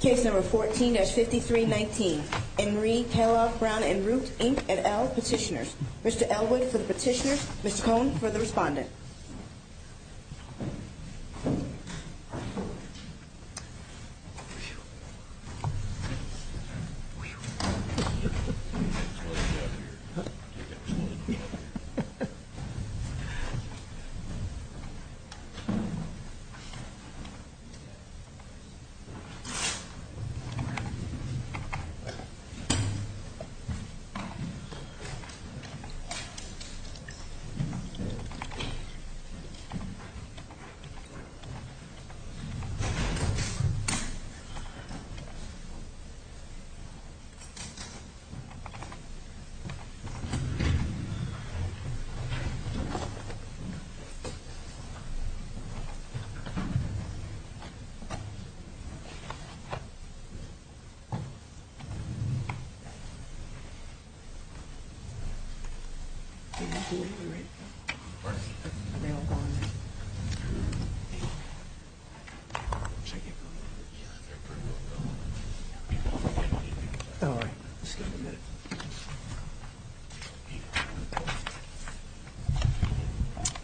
Case number 14-5319, Henry, Kellogg, Brown and Root, Inc. and L, Petitioners. Mr. Elwood for the petitioners, Ms. Cohn for the respondent. Case number 14-53919, Henry, Kellogg, Brown and Root, Inc. and L, Petitioners.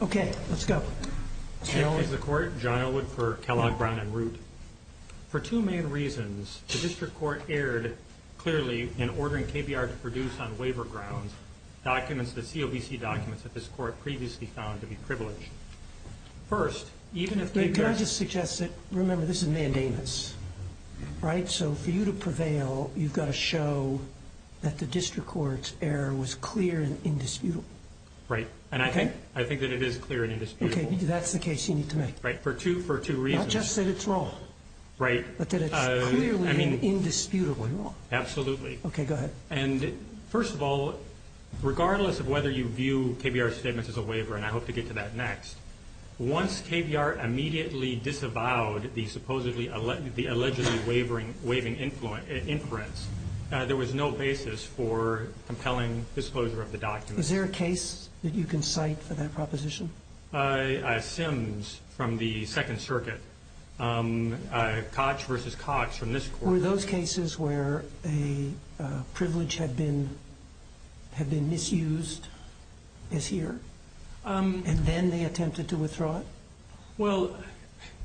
Okay, let's go. L is the court, John Elwood for Kellogg, Brown and Root. For two main reasons, the district court erred clearly in ordering KBR to produce on waiver grounds documents, the COBC documents that this court previously found to be privileged. First, even if KBR... Can I just suggest that, remember, this is mandamus, right? So for you to prevail, you've got to show that the district court's error was clear and indisputable. Right, and I think that it is clear and indisputable. Okay, that's the case you need to make. Right, for two reasons. Not just that it's wrong. Right. But that it's clearly and indisputably wrong. Absolutely. Okay, go ahead. And first of all, regardless of whether you view KBR's statements as a waiver, and I hope to get to that next, once KBR immediately disavowed the supposedly the allegedly wavering, waiving inference, there was no basis for compelling disclosure of the documents. Is there a case that you can cite for that proposition? I have Sims from the Second Circuit. Koch versus Koch from this court. Were those cases where a privilege had been misused this year? And then they attempted to withdraw it? Well,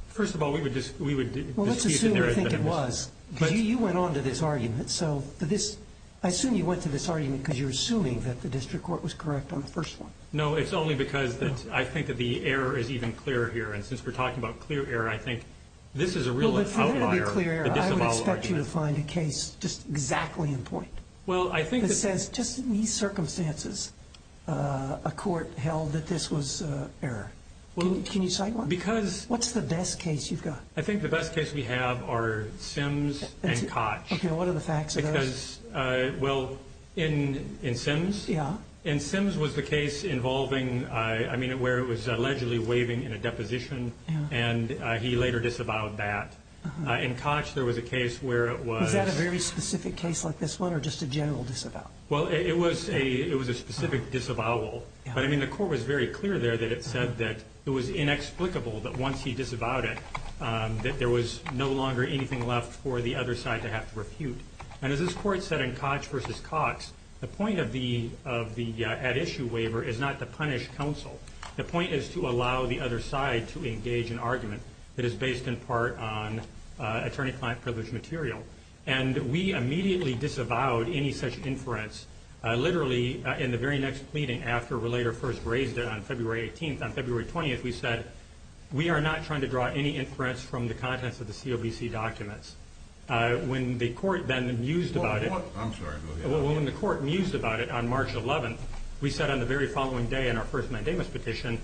first of all, we would dispute that there had been a misuse. Well, let's assume we think it was. You went on to this argument, so for this, I assume you went to this argument because you're assuming that the district court was correct on the first one. No, it's only because I think that the error is even clearer here. And since we're talking about clear error, I think this is a real outlier. I would expect you to find a case just exactly in point that says just in these circumstances a court held that this was error. Can you cite one? What's the best case you've got? I think the best case we have are Sims and Koch. Okay, what are the facts of those? Well, in Sims? Yeah. In Sims was the case involving, I mean, where it was allegedly waiving in a deposition, and he later disavowed that. In Koch, there was a case where it was. Was that a very specific case like this one or just a general disavowal? Well, it was a specific disavowal. But, I mean, the court was very clear there that it said that it was inexplicable that once he disavowed it that there was no longer anything left for the other side to have to refute. And as this court said in Koch v. Cox, the point of the at-issue waiver is not to punish counsel. The point is to allow the other side to engage in argument that is based in part on attorney-client privilege material. And we immediately disavowed any such inference. Literally, in the very next pleading after Relator first raised it on February 18th, on February 20th, we said, we are not trying to draw any inference from the contents of the COBC documents. When the court then mused about it. I'm sorry, go ahead. When the court mused about it on March 11th, we said on the very following day in our first mandamus petition,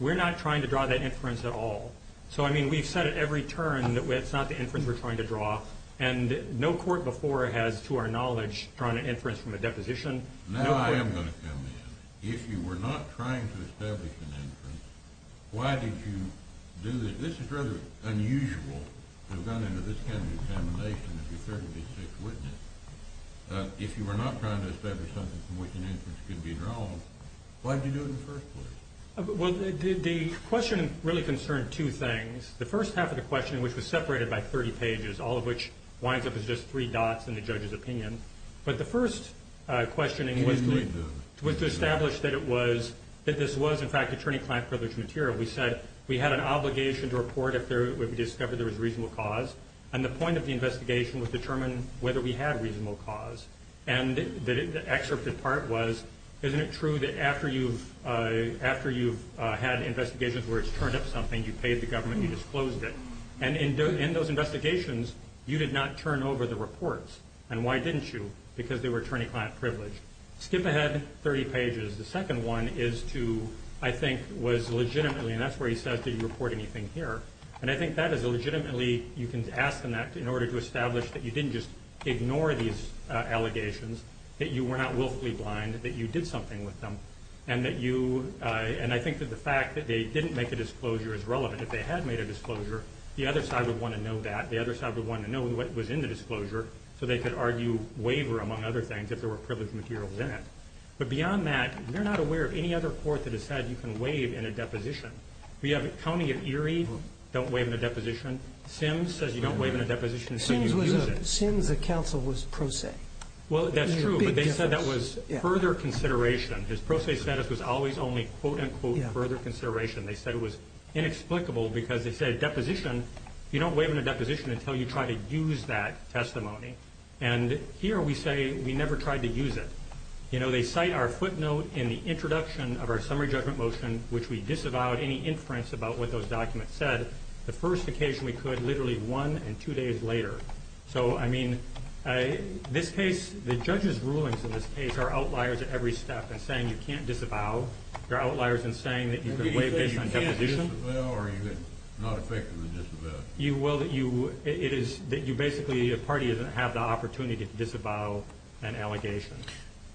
we're not trying to draw that inference at all. So, I mean, we've said at every turn that it's not the inference we're trying to draw. And no court before has, to our knowledge, drawn an inference from a deposition. Now I am going to come in. If you were not trying to establish an inference, why did you do this? This is rather unusual to have gone into this kind of examination, if you're a 36 witness. If you were not trying to establish something from which an inference could be drawn, why did you do it in the first place? Well, the question really concerned two things. The first half of the question, which was separated by 30 pages, all of which winds up as just three dots in the judge's opinion. But the first questioning was to establish that it was, that this was, in fact, attorney-client privilege material. We said we had an obligation to report if we discovered there was reasonable cause. And the point of the investigation was to determine whether we had reasonable cause. And the excerptive part was, isn't it true that after you've had investigations where it's turned up something, you paid the government, you disclosed it. And in those investigations, you did not turn over the reports. And why didn't you? Because they were attorney-client privilege. Skip ahead 30 pages. The second one is to, I think, was legitimately, and that's where he says did you report anything here. And I think that is a legitimately you can ask them that in order to establish that you didn't just ignore these allegations, that you were not willfully blind, that you did something with them. And that you, and I think that the fact that they didn't make a disclosure is relevant. If they had made a disclosure, the other side would want to know that. The other side would want to know what was in the disclosure so they could argue waiver, among other things, if there were privileged materials in it. But beyond that, they're not aware of any other court that has said you can waive in a deposition. We have a county of Erie don't waive in a deposition. Sims says you don't waive in a deposition until you use it. Sims, the counsel, was pro se. Well, that's true. But they said that was further consideration. His pro se status was always only, quote, unquote, further consideration. They said it was inexplicable because they said deposition, you don't waive in a deposition until you try to use that testimony. And here we say we never tried to use it. You know, they cite our footnote in the introduction of our summary judgment motion, which we disavowed any inference about what those documents said, the first occasion we could literally one and two days later. So, I mean, this case, the judge's rulings in this case are outliers at every step in saying you can't disavow. They're outliers in saying that you can waive based on deposition. Are you saying you can't disavow or you're not effective in disavowing? Well, it is that you basically, a party, doesn't have the opportunity to disavow an allegation.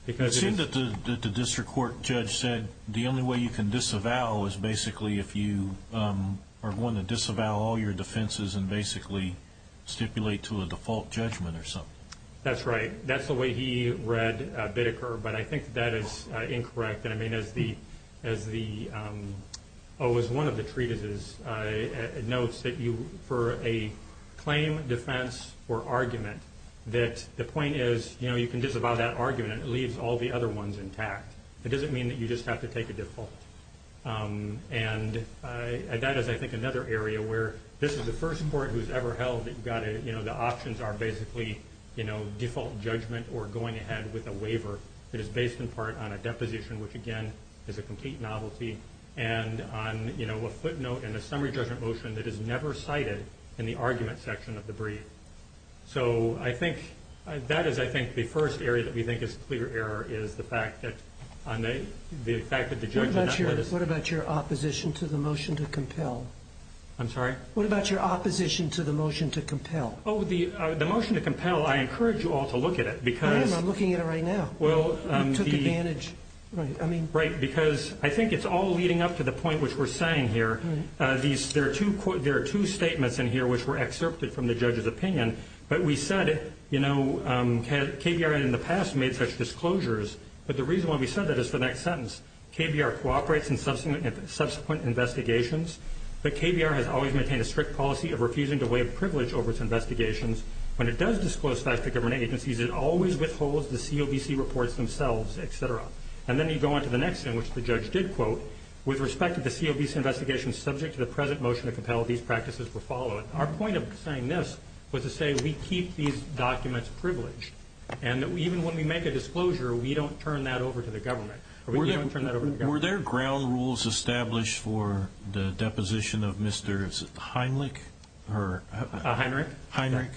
It seems that the district court judge said the only way you can disavow is basically if you are going to disavow all your defenses and basically stipulate to a default judgment or something. That's right. That's the way he read Biddeker, but I think that is incorrect. And, I mean, as one of the treatises notes, that for a claim, defense, or argument, that the point is, you know, you disavow that argument and it leaves all the other ones intact. It doesn't mean that you just have to take a default. And that is, I think, another area where this is the first court who's ever held that you've got to, you know, the options are basically, you know, default judgment or going ahead with a waiver that is based in part on a deposition, which, again, is a complete novelty, and on, you know, a footnote and a summary judgment motion that is never cited in the argument section of the brief. So I think that is, I think, the first area that we think is clear error, is the fact that the judge did not list. What about your opposition to the motion to compel? I'm sorry? What about your opposition to the motion to compel? Oh, the motion to compel, I encourage you all to look at it because I am, I'm looking at it right now. You took advantage. Right, because I think it's all leading up to the point which we're saying here. There are two statements in here which were excerpted from the judge's opinion, but we said, you know, KBR in the past made such disclosures, but the reason why we said that is for the next sentence. KBR cooperates in subsequent investigations, but KBR has always maintained a strict policy of refusing to waive privilege over its investigations. When it does disclose facts to government agencies, it always withholds the COVC reports themselves, et cetera. And then you go on to the next thing, which the judge did quote, with respect to the COVC investigation subject to the present motion to compel these practices were followed. Our point of saying this was to say we keep these documents privileged, and even when we make a disclosure, we don't turn that over to the government. We don't turn that over to the government. Were there ground rules established for the deposition of Mr. Heinrich? Heinrich? Heinrich.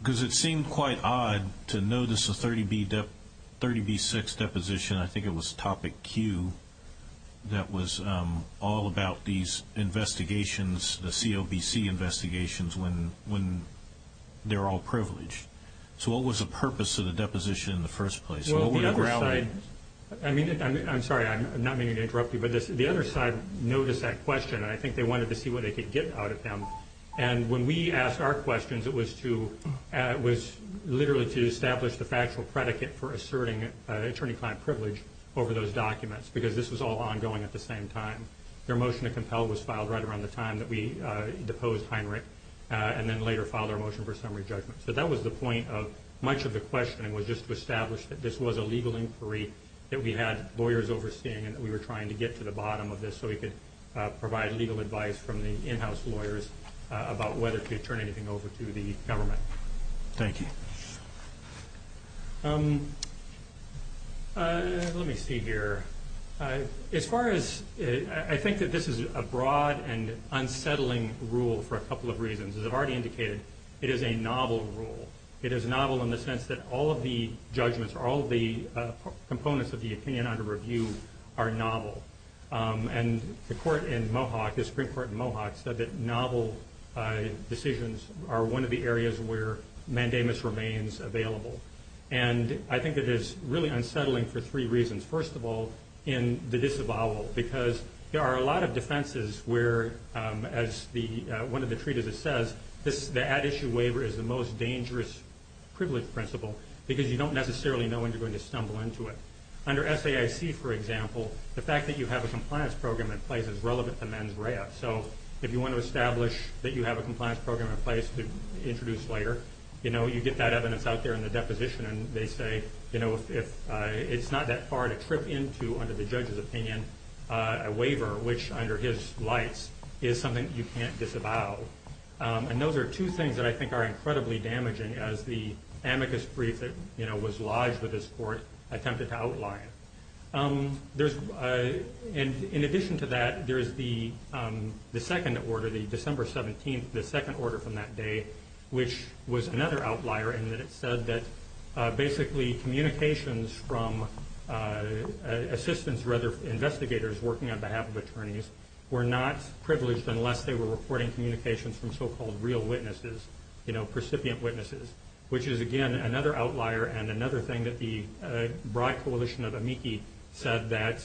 Because it seemed quite odd to notice a 30B6 deposition, I think it was topic Q, that was all about these investigations, the COVC investigations, when they're all privileged. So what was the purpose of the deposition in the first place? I'm sorry, I'm not meaning to interrupt you, but the other side noticed that question, and I think they wanted to see what they could get out of them. And when we asked our questions, it was literally to establish the factual predicate for asserting attorney over those documents because this was all ongoing at the same time. Their motion to compel was filed right around the time that we deposed Heinrich and then later filed our motion for summary judgment. So that was the point of much of the questioning was just to establish that this was a legal inquiry that we had lawyers overseeing and that we were trying to get to the bottom of this so we could provide legal advice from the in-house lawyers about whether to turn anything over to the government. Thank you. Let me see here. As far as I think that this is a broad and unsettling rule for a couple of reasons. As I've already indicated, it is a novel rule. It is novel in the sense that all of the judgments, all of the components of the opinion under review are novel. And the court in Mohawk, the Supreme Court in Mohawk, said that novel decisions are one of the areas where mandamus remains available. And I think it is really unsettling for three reasons. First of all, in the disavowal because there are a lot of defenses where, as one of the treatises says, the at-issue waiver is the most dangerous privilege principle because you don't necessarily know when you're going to stumble into it. Under SAIC, for example, the fact that you have a compliance program in place is relevant to mens rea. So if you want to establish that you have a compliance program in place to introduce later, you get that evidence out there in the deposition, and they say it's not that far to trip into under the judge's opinion a waiver, which under his lights is something you can't disavow. And those are two things that I think are incredibly damaging as the amicus brief that was lodged with this court attempted to outline. In addition to that, there is the second order, the December 17th, the second order from that day, which was another outlier, in that it said that basically communications from assistants, rather investigators working on behalf of attorneys, were not privileged unless they were reporting communications from so-called real witnesses, you know, recipient witnesses, which is, again, another outlier and another thing that the broad coalition of amici said that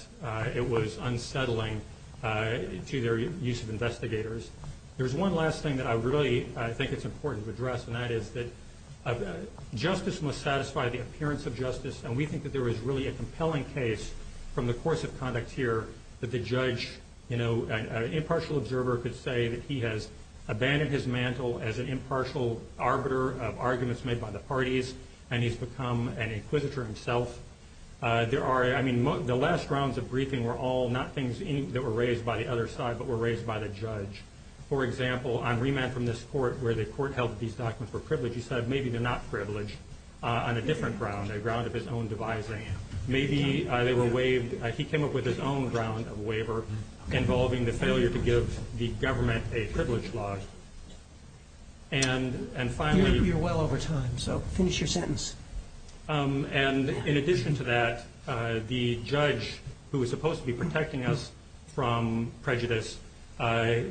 it was unsettling to their use of investigators. There's one last thing that I really think it's important to address, and that is that justice must satisfy the appearance of justice, and we think that there is really a compelling case from the course of conduct here that the judge, you know, an impartial observer could say that he has abandoned his mantle as an impartial arbiter of arguments made by the parties, and he's become an inquisitor himself. There are, I mean, the last rounds of briefing were all not things that were raised by the other side, but were raised by the judge. For example, on remand from this court where the court held these documents were privileged, he said maybe they're not privileged on a different ground, a ground of his own devising. Maybe they were waived. He came up with his own ground of waiver involving the failure to give the government a privilege law. And finally... You're well over time, so finish your sentence. And in addition to that, the judge, who was supposed to be protecting us from prejudice,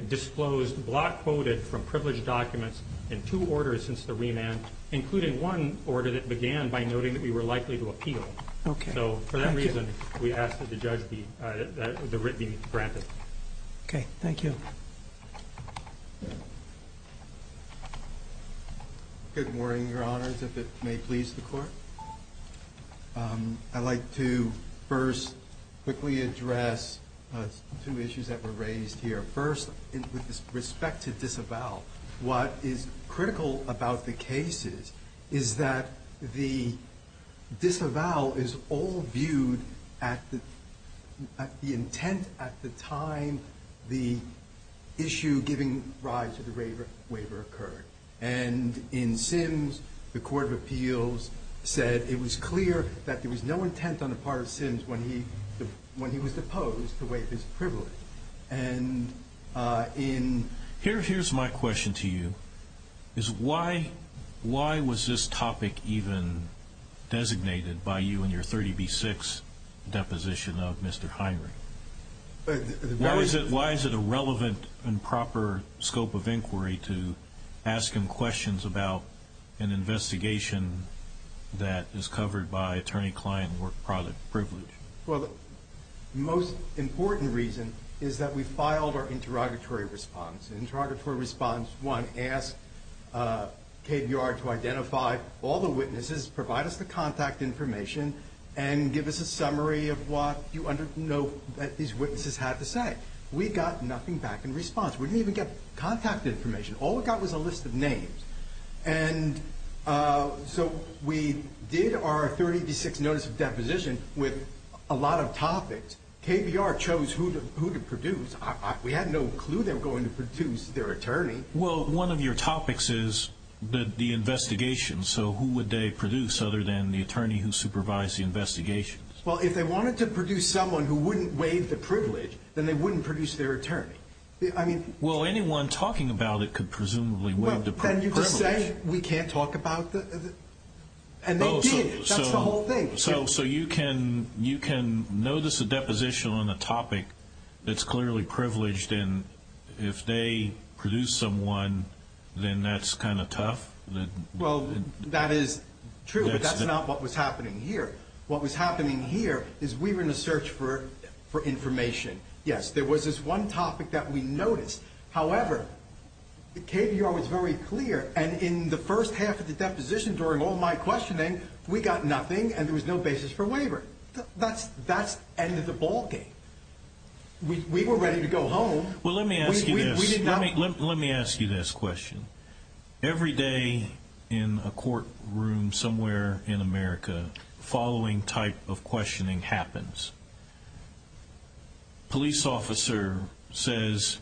disclosed block quoted from privileged documents in two orders since the remand, including one order that began by noting that we were likely to appeal. Okay. So for that reason, we asked that the judge be granted. Okay. Thank you. Good morning, Your Honors, if it may please the Court. I'd like to first quickly address two issues that were raised here. First, with respect to disavowal, what is critical about the cases is that the disavowal is all viewed at the intent at the time the issue giving rise to the waiver occurred. And in Sims, the Court of Appeals said it was clear that there was no intent on the part of Sims when he was deposed to waive his privilege. And in... Here's my question to you, is why was this topic even designated by you in your 30B6 deposition of Mr. Heinrich? Why is it a relevant and proper scope of inquiry to ask him questions about an investigation that is covered by attorney-client work product privilege? Well, the most important reason is that we filed our interrogatory response. Interrogatory response, one, asked KBR to identify all the witnesses, provide us the contact information, and give us a summary of what you know that these witnesses had to say. We got nothing back in response. We didn't even get contact information. All we got was a list of names. And so we did our 30B6 notice of deposition with a lot of topics. KBR chose who to produce. We had no clue they were going to produce their attorney. Well, one of your topics is the investigation, so who would they produce other than the attorney who supervised the investigation? Well, if they wanted to produce someone who wouldn't waive the privilege, then they wouldn't produce their attorney. Well, anyone talking about it could presumably waive the privilege. Then you could say we can't talk about it. And they did. That's the whole thing. So you can notice a deposition on a topic that's clearly privileged, and if they produce someone, then that's kind of tough? Well, that is true, but that's not what was happening here. What was happening here is we were in a search for information. Yes, there was this one topic that we noticed. However, KBR was very clear, and in the first half of the deposition during all my questioning, we got nothing and there was no basis for waiver. That's the end of the ball game. We were ready to go home. Well, let me ask you this. Every day in a courtroom somewhere in America, the following type of questioning happens. A police officer says,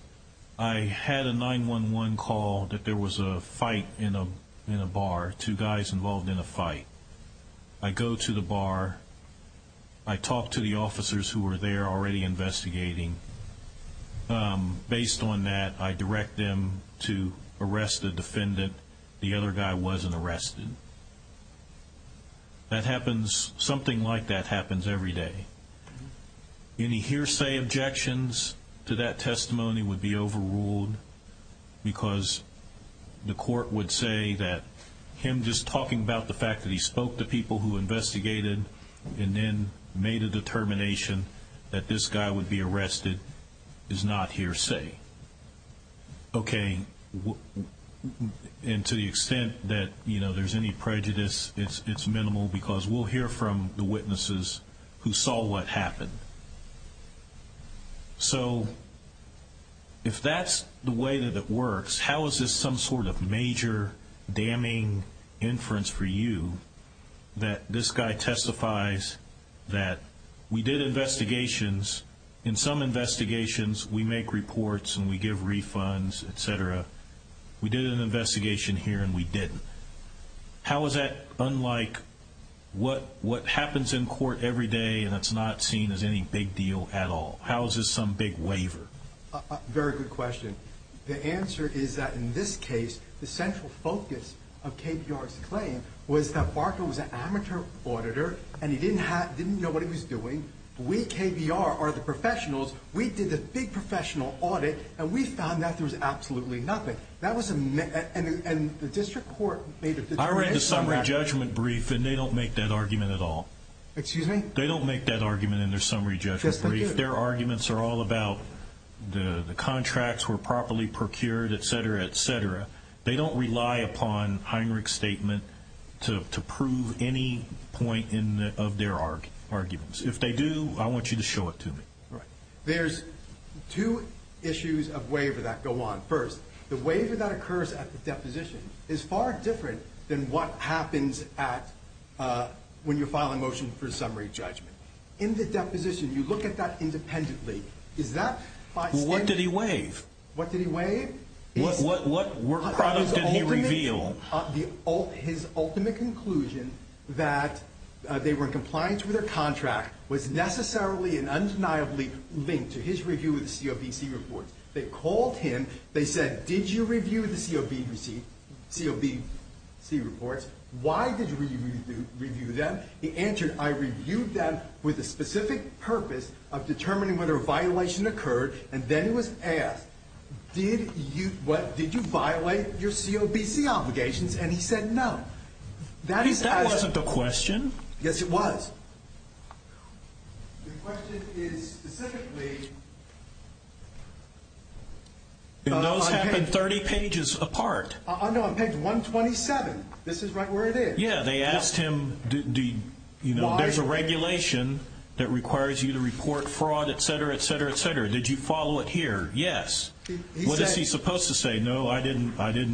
I had a 911 call that there was a fight in a bar, two guys involved in a fight. I go to the bar. I talk to the officers who were there already investigating. Based on that, I direct them to arrest the defendant. The other guy wasn't arrested. Something like that happens every day. Any hearsay objections to that testimony would be overruled because the court would say that him just talking about the fact that he spoke to people who investigated and then made a determination that this guy would be arrested is not hearsay. Okay. And to the extent that there's any prejudice, it's minimal, because we'll hear from the witnesses who saw what happened. So if that's the way that it works, how is this some sort of major damning inference for you that this guy testifies that we did investigations. In some investigations, we make reports and we give refunds, et cetera. We did an investigation here and we didn't. How is that unlike what happens in court every day and that's not seen as any big deal at all? How is this some big waiver? Very good question. The answer is that in this case, the central focus of KBR's claim was that Barker was an amateur auditor and he didn't know what he was doing. We, KBR, are the professionals. We did the big professional audit and we found that there was absolutely nothing. And the district court made a determination. I read the summary judgment brief and they don't make that argument at all. Excuse me? They don't make that argument in their summary judgment brief. Yes, they do. Their arguments are all about the contracts were properly procured, et cetera, et cetera. They don't rely upon Heinrich's statement to prove any point of their arguments. If they do, I want you to show it to me. Right. There's two issues of waiver that go on. First, the waiver that occurs at the deposition is far different than what happens when you file a motion for a summary judgment. In the deposition, you look at that independently. What did he waive? What did he waive? What product did he reveal? His ultimate conclusion that they were in compliance with their contract was necessarily and undeniably linked to his review of the COBC reports. They called him. They said, did you review the COBC reports? Why did you review them? He answered, I reviewed them with a specific purpose of determining whether a violation occurred. Then he was asked, did you violate your COBC obligations? He said, no. That wasn't the question. Yes, it was. The question is specifically. Those happen 30 pages apart. No, on page 127. This is right where it is. Yeah, they asked him, there's a regulation that requires you to report fraud, et cetera, et cetera, et cetera. Did you follow it here? Yes. What is he supposed to say? No, I didn't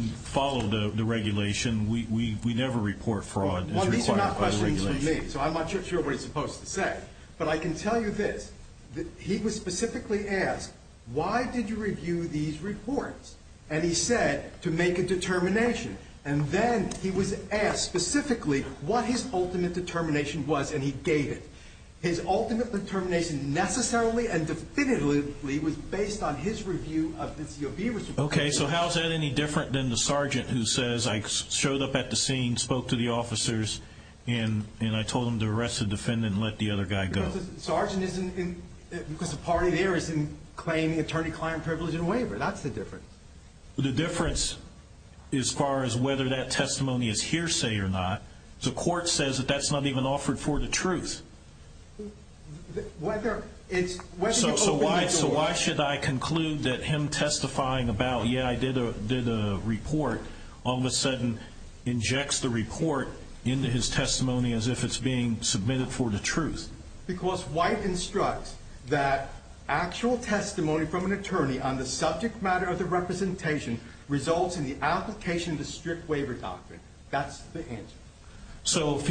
follow the regulation. We never report fraud. These are not questions for me, so I'm not sure what he's supposed to say. But I can tell you this. He was specifically asked, why did you review these reports? And he said, to make a determination. And then he was asked specifically what his ultimate determination was, and he gave it. His ultimate determination necessarily and definitively was based on his review of the COB report. Okay, so how is that any different than the sergeant who says, I showed up at the scene, spoke to the officers, and I told them to arrest the defendant and let the other guy go? Because the sergeant isn't in, because the party there isn't claiming attorney-client privilege and waiver. That's the difference. The difference as far as whether that testimony is hearsay or not, the court says that that's not even offered for the truth. So why should I conclude that him testifying about, yeah, I did a report, all of a sudden injects the report into his testimony as if it's being submitted for the truth? Because White instructs that actual testimony from an attorney on the subject matter of the representation results in the application of the strict waiver doctrine. That's the answer. So if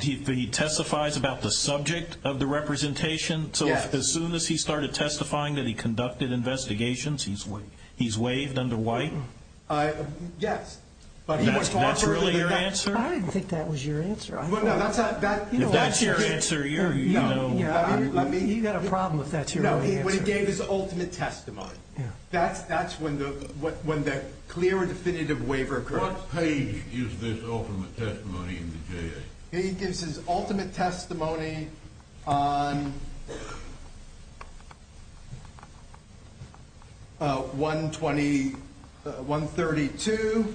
he testifies about the subject of the representation, so as soon as he started testifying that he conducted investigations, he's waived under White? Yes. That's really your answer? I didn't think that was your answer. If that's your answer, you know. You've got a problem if that's your answer. No, when he gave his ultimate testimony, that's when the clear and definitive waiver occurs. What page is this ultimate testimony in the JA? He gives his ultimate testimony on 120, 132.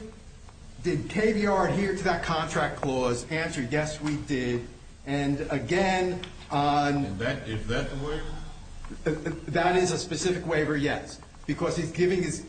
Did KVR adhere to that contract clause? Answer, yes, we did. And, again, on... Is that the waiver? That is a specific waiver, yes, because he's giving his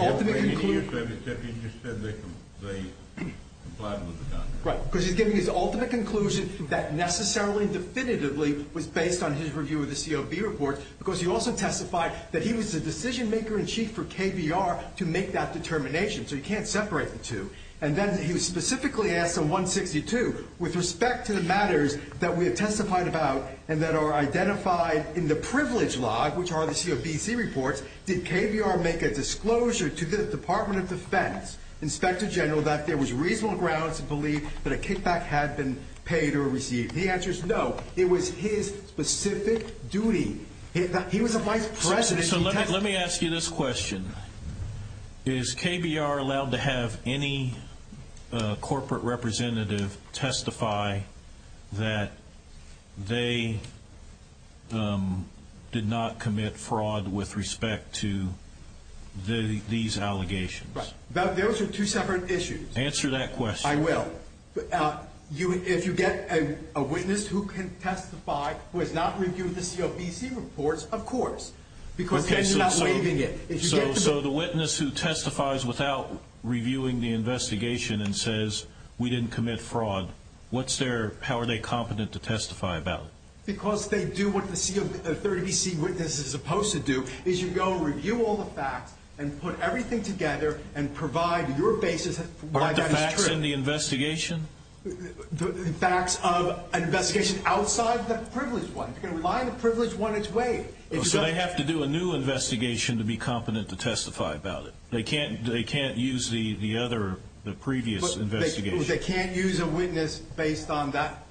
ultimate conclusion. He just said they complied with the contract. Right, because he's giving his ultimate conclusion that necessarily definitively was based on his review of the COB report because he also testified that he was the decision-maker-in-chief for KVR to make that determination, so you can't separate the two. And then he was specifically asked on 162, with respect to the matters that we have testified about and that are identified in the privilege log, which are the COBC reports, did KVR make a disclosure to the Department of Defense, Inspector General, that there was reasonable grounds to believe that a kickback had been paid or received? The answer is no. It was his specific duty. He was a vice president. So let me ask you this question. Is KVR allowed to have any corporate representative testify that they did not commit fraud with respect to these allegations? Those are two separate issues. Answer that question. I will. If you get a witness who can testify who has not reviewed the COBC reports, of course, because then you're not waiving it. So the witness who testifies without reviewing the investigation and says, we didn't commit fraud, how are they competent to testify about it? Because they do what the COBC witness is supposed to do, is you go review all the facts and put everything together and provide your basis for why that is true. Aren't the facts in the investigation? The facts of an investigation outside the privilege one. You can rely on the privilege one its way. So they have to do a new investigation to be competent to testify about it. They can't use the other, the previous investigation. They can't use a witness based on that?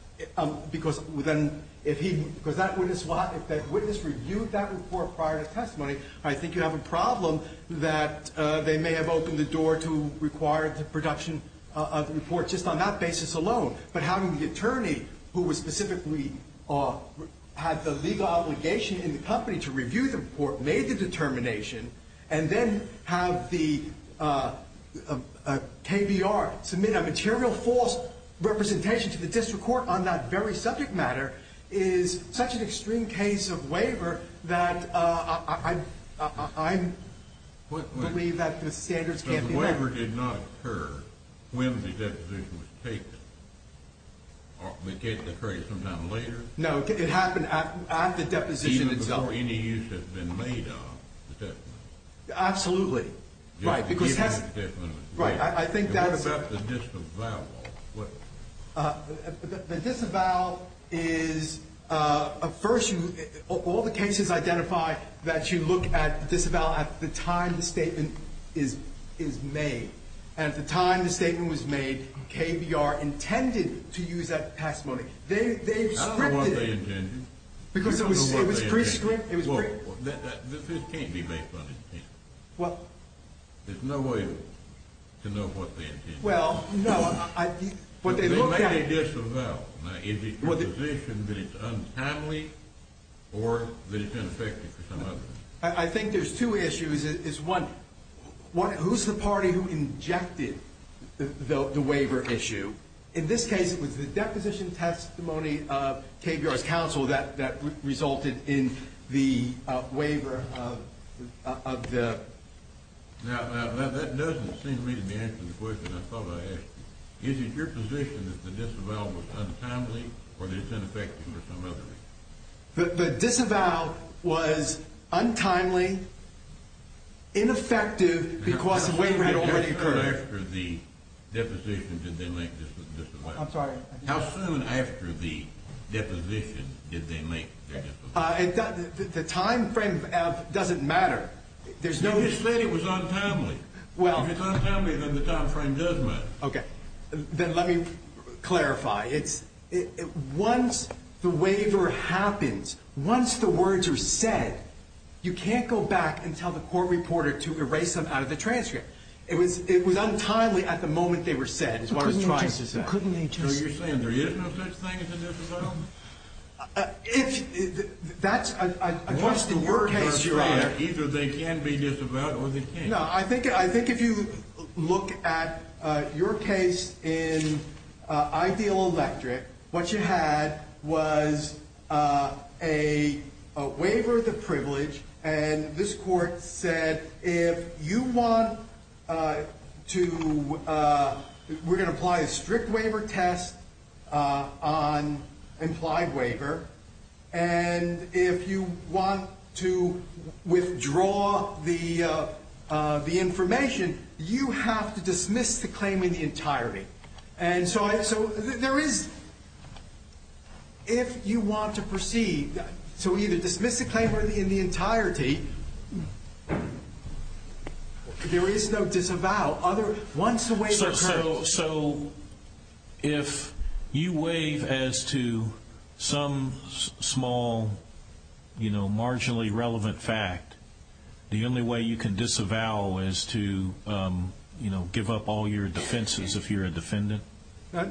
Because if that witness reviewed that report prior to testimony, I think you have a problem that they may have opened the door to require the production of the report just on that basis alone. But having the attorney who specifically had the legal obligation in the company to review the report, made the determination, and then have the KBR submit a material false representation to the district court on that very subject matter, is such an extreme case of waiver that I believe that the standards can't be met. The waiver did not occur when the deposition was taken? It did occur sometime later? No, it happened at the deposition itself. Even before any use had been made of the testimony? Absolutely. Right. What about the disavowal? The disavowal is, first, all the cases identify that you look at the disavowal at the time the statement is made. And at the time the statement was made, KBR intended to use that testimony. They've scripted it. I don't know what they intended. Because it was pre-scripted. This can't be based on intent. What? There's no way to know what they intended. Well, no. But they made a disavowal. Now, is it a proposition that it's untimely or that it's ineffective for some other reason? I think there's two issues. One, who's the party who injected the waiver issue? In this case, it was the deposition testimony of KBR's counsel that resulted in the waiver of the ---- Now, that doesn't seem to me to be answering the question I thought I asked you. Is it your position that the disavowal was untimely or that it's ineffective for some other reason? The disavowal was untimely, ineffective because the waiver had already occurred. How soon after the deposition did they make the disavowal? I'm sorry? How soon after the deposition did they make the disavowal? The time frame doesn't matter. You just said it was untimely. If it's untimely, then the time frame does matter. Okay. Then let me clarify. Once the waiver happens, once the words are said, you can't go back and tell the court reporter to erase them out of the transcript. It was untimely at the moment they were said is what I was trying to say. Couldn't they just ---- So you're saying there is no such thing as a disavowal? If that's ---- Once the words are said, either they can be disavowed or they can't. I think if you look at your case in Ideal Electric, what you had was a waiver of the privilege, and this court said if you want to ---- we're going to apply a strict waiver test on implied waiver, and if you want to withdraw the information, you have to dismiss the claim in the entirety. So there is ---- if you want to proceed to either dismiss the claim or in the entirety, there is no disavowal. Once the waiver occurs ----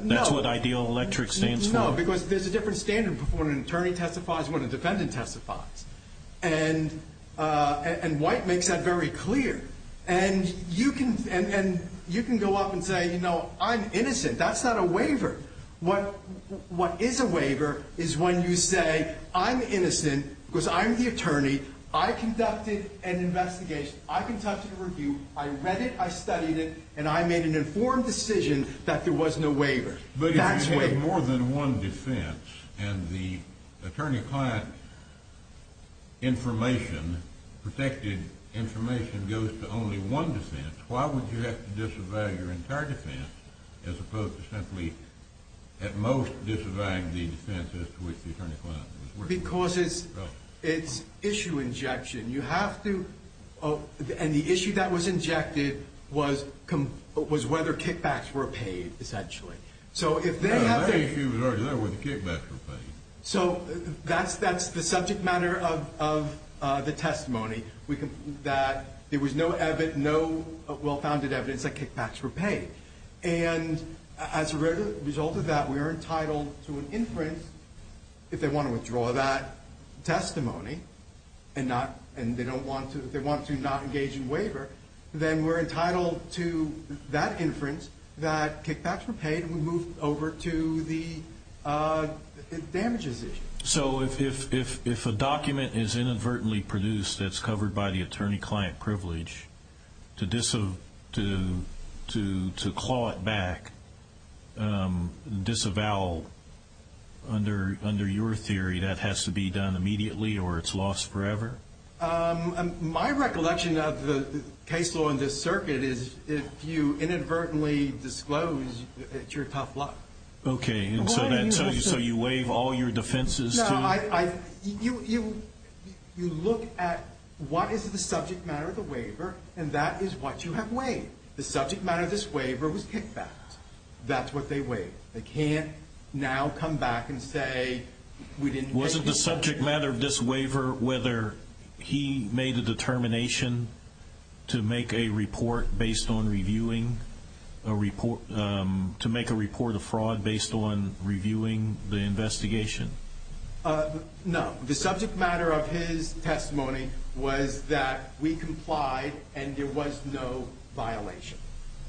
That's what Ideal Electric stands for. No, because there's a different standard before an attorney testifies when a defendant testifies. And White makes that very clear. And you can go up and say, you know, I'm innocent. That's not a waiver. What is a waiver is when you say, I'm innocent because I'm the attorney. I conducted an investigation. I conducted a review. I read it. I studied it. And I made an informed decision that there was no waiver. But if you had more than one defense and the attorney-client information, protected information, goes to only one defense, why would you have to disavow your entire defense as opposed to simply at most disavowing the defense as to which the attorney-client was working? Because it's issue injection. You have to ---- And the issue that was injected was whether kickbacks were paid, essentially. So if they have to ---- No, that issue was already there where the kickbacks were paid. So that's the subject matter of the testimony, that there was no well-founded evidence that kickbacks were paid. And as a result of that, we are entitled to an inference if they want to withdraw that testimony and they want to not engage in waiver, then we're entitled to that inference that kickbacks were paid. We move over to the damages issue. So if a document is inadvertently produced that's covered by the attorney-client privilege, to claw it back, disavow under your theory, that has to be done immediately or it's lost forever? My recollection of the case law in this circuit is if you inadvertently disclose, it's your tough luck. Okay, and so you waive all your defenses to ---- No, you look at what is the subject matter of the waiver, and that is what you have waived. The subject matter of this waiver was kickbacks. That's what they waived. They can't now come back and say we didn't ---- Wasn't the subject matter of this waiver whether he made a determination to make a report based on reviewing a report, to make a report of fraud based on reviewing the investigation? No. The subject matter of his testimony was that we complied and there was no violation.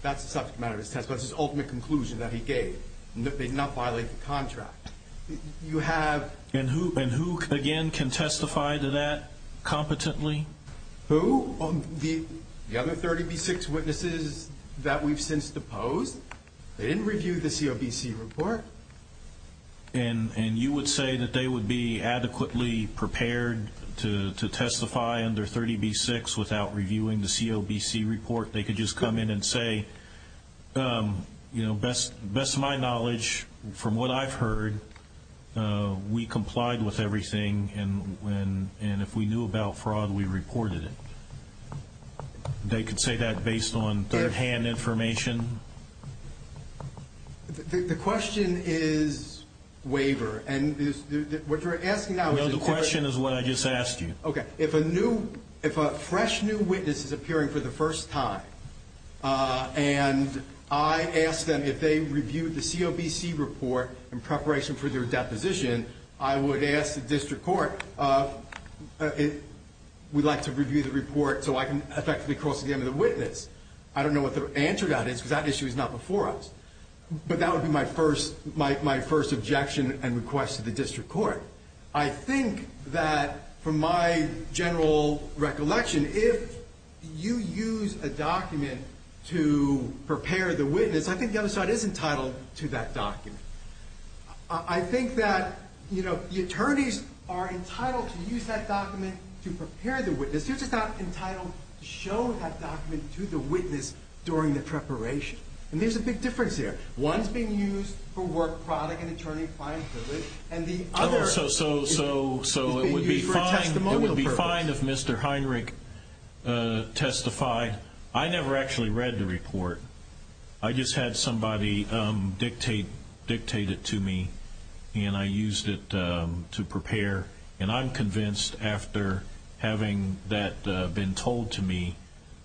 That's the subject matter of his testimony. That's his ultimate conclusion that he gave. They did not violate the contract. You have ---- And who, again, can testify to that competently? Who? The other 30B6 witnesses that we've since deposed. They didn't review the COBC report. And you would say that they would be adequately prepared to testify under 30B6 without reviewing the COBC report? They could just come in and say, you know, best to my knowledge, from what I've heard, we complied with everything, and if we knew about fraud, we reported it. They could say that based on third-hand information. The question is waiver. And what you're asking now is a different ---- No, the question is what I just asked you. Okay. If a new ---- if a fresh new witness is appearing for the first time and I ask them if they reviewed the COBC report in preparation for their deposition, I would ask the district court if we'd like to review the report so I can effectively cross again to the witness. I don't know what the answer to that is because that issue is not before us. But that would be my first objection and request to the district court. I think that from my general recollection, if you use a document to prepare the witness, I think the other side is entitled to that document. I think that, you know, the attorneys are entitled to use that document to prepare the witness. You're just not entitled to show that document to the witness during the preparation. And there's a big difference there. One's being used for work product and attorney client privilege, and the other is being used for a testimonial purpose. So it would be fine if Mr. Heinrich testified. I never actually read the report. I just had somebody dictate it to me, and I used it to prepare. And I'm convinced after having that been told to me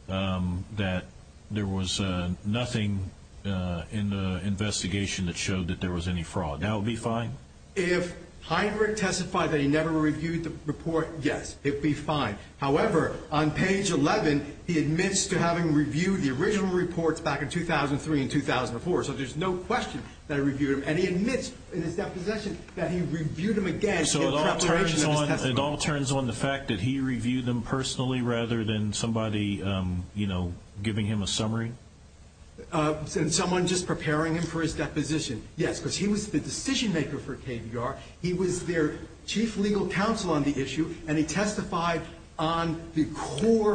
that there was nothing in the investigation that showed that there was any fraud. That would be fine? If Heinrich testified that he never reviewed the report, yes, it would be fine. However, on page 11, he admits to having reviewed the original reports back in 2003 and 2004. So there's no question that I reviewed them. And he admits in his deposition that he reviewed them again. So it all turns on the fact that he reviewed them personally rather than somebody, you know, giving him a summary? Someone just preparing him for his deposition. Yes, because he was the decision maker for KBR. He was their chief legal counsel on the issue, and he testified on the core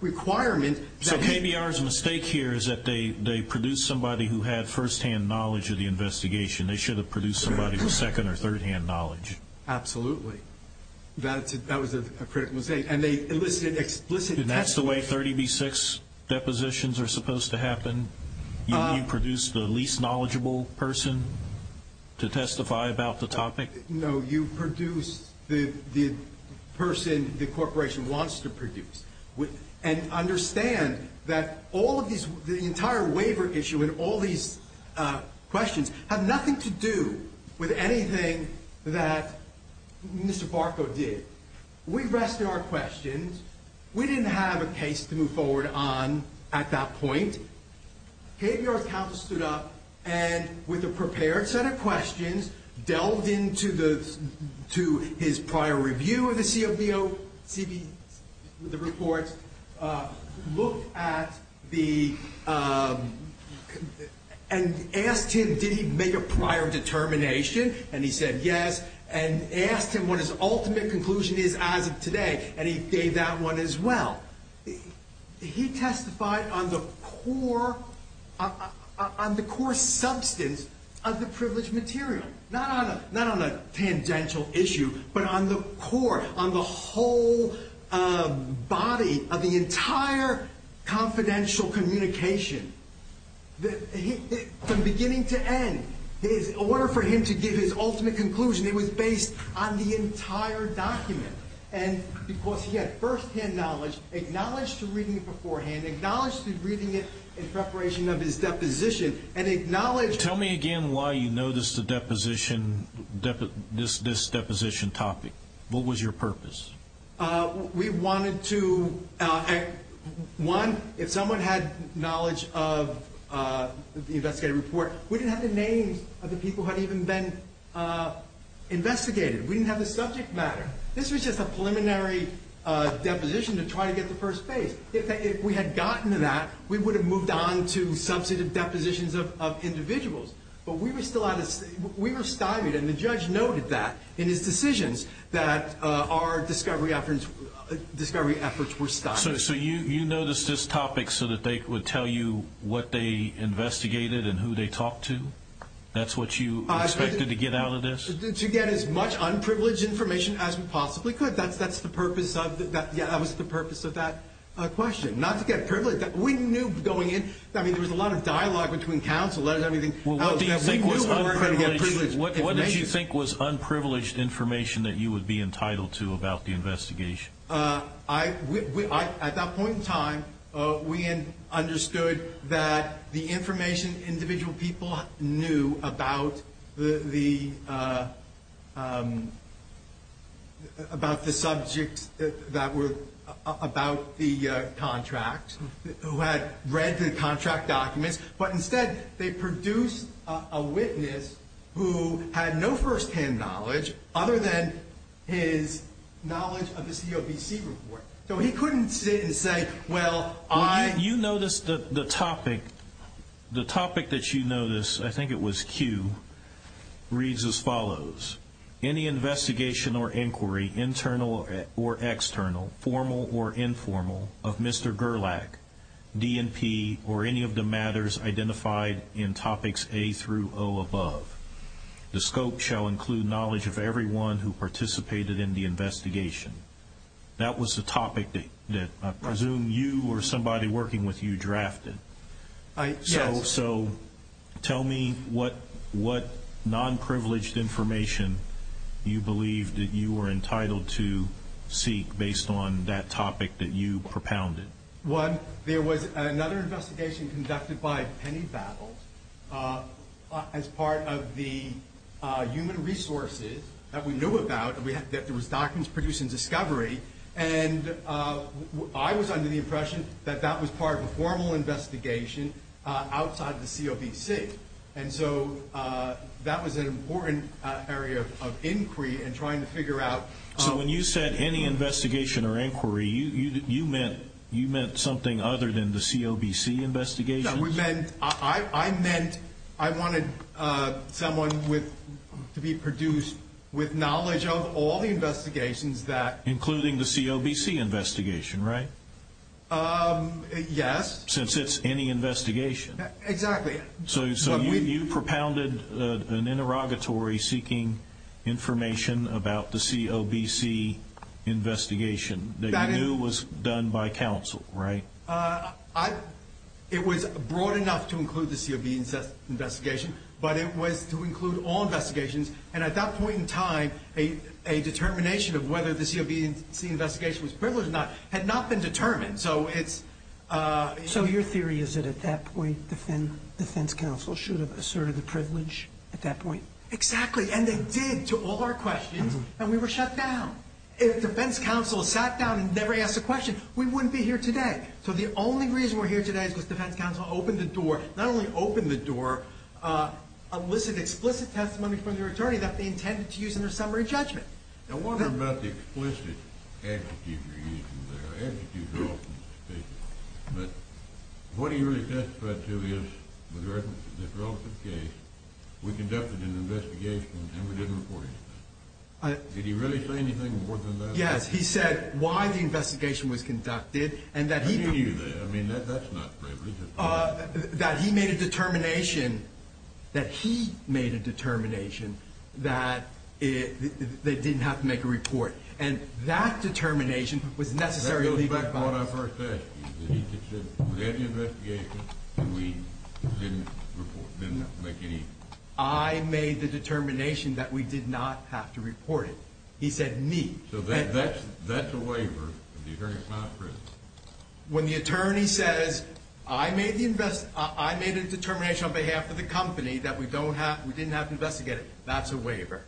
requirement. So KBR's mistake here is that they produced somebody who had firsthand knowledge of the investigation. They should have produced somebody with second- or third-hand knowledge. Absolutely. That was a critical mistake, and they elicited explicit testimony. And that's the way 30b-6 depositions are supposed to happen? You produce the least knowledgeable person to testify about the topic? And understand that all of these, the entire waiver issue and all these questions have nothing to do with anything that Mr. Barco did. We've asked our questions. We didn't have a case to move forward on at that point. KBR's counsel stood up and, with a prepared set of questions, delved into his prior review of the COBOCB, the reports, looked at the and asked him did he make a prior determination, and he said yes, and asked him what his ultimate conclusion is as of today, and he gave that one as well. He testified on the core substance of the privileged material. Not on a tangential issue, but on the core, on the whole body of the entire confidential communication. From beginning to end, in order for him to give his ultimate conclusion, it was based on the entire document. And because he had first-hand knowledge, acknowledged to reading it beforehand, acknowledged to reading it in preparation of his deposition, and acknowledged... Tell me again why you noticed the deposition, this deposition topic. What was your purpose? We wanted to, one, if someone had knowledge of the investigative report, we didn't have the names of the people who had even been investigated. We didn't have the subject matter. This was just a preliminary deposition to try to get to first base. If we had gotten to that, we would have moved on to substantive depositions of individuals. But we were still out of... We were stymied, and the judge noted that in his decisions that our discovery efforts were stymied. So you noticed this topic so that they would tell you what they investigated and who they talked to? That's what you expected to get out of this? To get as much unprivileged information as we possibly could. That's the purpose of that question. Not to get privileged. We knew going in, I mean, there was a lot of dialogue between counsel. What did you think was unprivileged information that you would be entitled to about the investigation? At that point in time, we understood that the information individual people knew about the subjects that were about the contract, who had read the contract documents. But instead, they produced a witness who had no first-hand knowledge other than his knowledge of the COBC report. So he couldn't sit and say, well, I... You noticed that the topic, the topic that you noticed, I think it was Q, reads as follows. Any investigation or inquiry, internal or external, formal or informal, of Mr. Gerlach, DNP, or any of the matters identified in topics A through O above. The scope shall include knowledge of everyone who participated in the investigation. That was the topic that I presume you or somebody working with you drafted. Yes. So tell me what non-privileged information you believe that you were entitled to seek based on that topic that you propounded. One, there was another investigation conducted by Penny Babble as part of the human resources that we knew about, that there was documents produced in Discovery. And I was under the impression that that was part of a formal investigation outside the COBC. And so that was an important area of inquiry in trying to figure out... So when you said any investigation or inquiry, you meant something other than the COBC investigation? No, I meant I wanted someone to be produced with knowledge of all the investigations that... Including the COBC investigation, right? Yes. Since it's any investigation. Exactly. So you propounded an interrogatory seeking information about the COBC investigation that you knew was done by counsel, right? It was broad enough to include the COBC investigation, but it was to include all investigations. And at that point in time, a determination of whether the COBC investigation was privileged or not had not been determined. So it's... So your theory is that at that point, defense counsel should have asserted the privilege at that point? Exactly. And they did to all our questions. And we were shut down. If defense counsel sat down and never asked a question, we wouldn't be here today. So the only reason we're here today is because defense counsel opened the door, not only opened the door, elicited explicit testimony from their attorney that they intended to use in their summary judgment. Now, what about the explicit execution? But what he really testified to is, with regard to this relative case, we conducted an investigation and we didn't report anything. Did he really say anything more than that? Yes. He said why the investigation was conducted and that he... How do you know that? I mean, that's not privilege. That he made a determination, that he made a determination that they didn't have to make a report. And that determination was necessary legal advice. That goes back to what I first asked you. Did he just say, we had the investigation and we didn't report, didn't make any... I made the determination that we did not have to report it. He said me. So that's a waiver if the attorney is not present. When the attorney says, I made a determination on behalf of the company that we didn't have to investigate it, that's a waiver.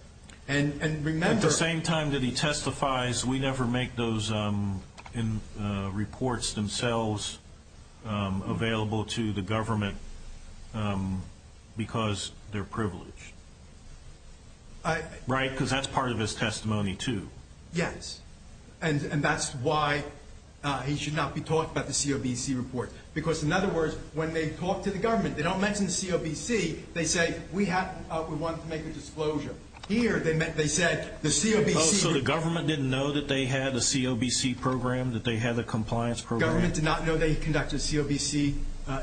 And remember... At the same time that he testifies, we never make those reports themselves available to the government because they're privileged. Right? Because that's part of his testimony, too. Yes. And that's why he should not be talking about the COBC report. Because, in other words, when they talk to the government, they don't mention the COBC. They say, we wanted to make a disclosure. Here, they said the COBC... So the government didn't know that they had a COBC program, that they had a compliance program? The government did not know they conducted a COBC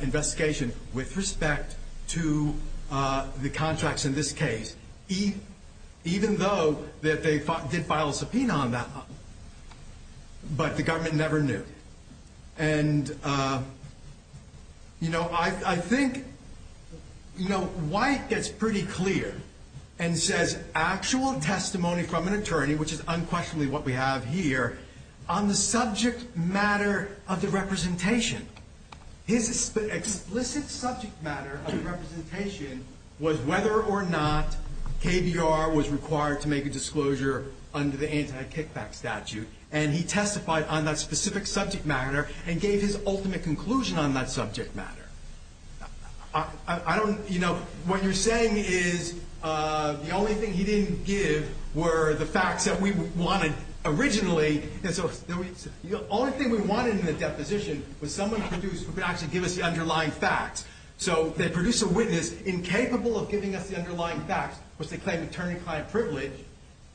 investigation with respect to the contracts in this case, even though that they did file a subpoena on that one. But the government never knew. And, you know, I think... You know, White gets pretty clear and says actual testimony from an attorney, which is unquestionably what we have here, on the subject matter of the representation. His explicit subject matter of the representation was whether or not KBR was required to make a disclosure under the anti-kickback statute. And he testified on that specific subject matter and gave his ultimate conclusion on that subject matter. I don't... You know, what you're saying is the only thing he didn't give were the facts that we wanted originally. And so the only thing we wanted in the deposition was someone who could actually give us the underlying facts. So they produce a witness incapable of giving us the underlying facts, which they claim attorney-client privilege.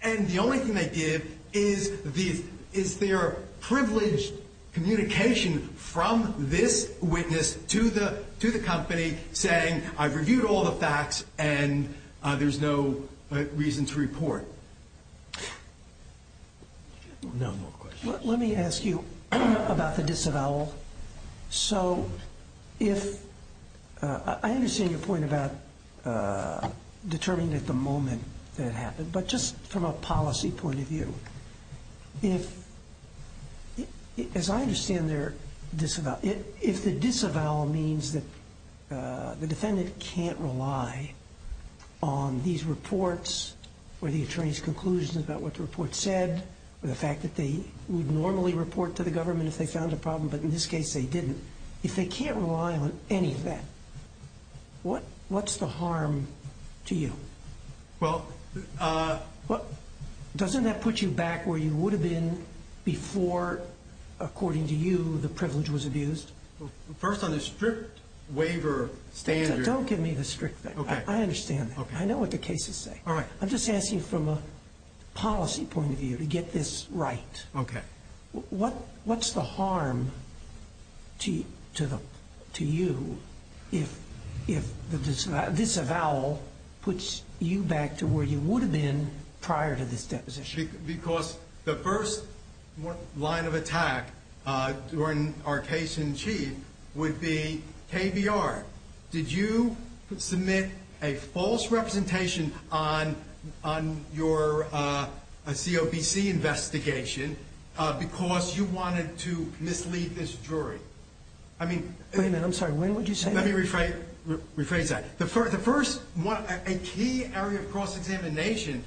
And the only thing they give is their privileged communication from this witness to the company saying, I've reviewed all the facts and there's no reason to report. No more questions. Let me ask you about the disavowal. So if... I understand your point about determining at the moment that it happened. But just from a policy point of view, if... As I understand their disavowal, if the disavowal means that the defendant can't rely on these reports or the attorney's conclusions about what the report said or the fact that they would normally report to the government if they found a problem, but in this case they didn't, if they can't rely on any of that, what's the harm to you? Well... Doesn't that put you back where you would have been before, according to you, the privilege was abused? First on the strict waiver standards... Don't give me the strict... Okay. I understand that. I know what the cases say. All right. I'm just asking from a policy point of view to get this right. Okay. What's the harm to you if this avowal puts you back to where you would have been prior to this deposition? Because the first line of attack during our case in chief would be KBR. Did you submit a false representation on your COBC investigation because you wanted to mislead this jury? I mean... Wait a minute. I'm sorry. When would you say that? Let me rephrase that. A key area of cross-examination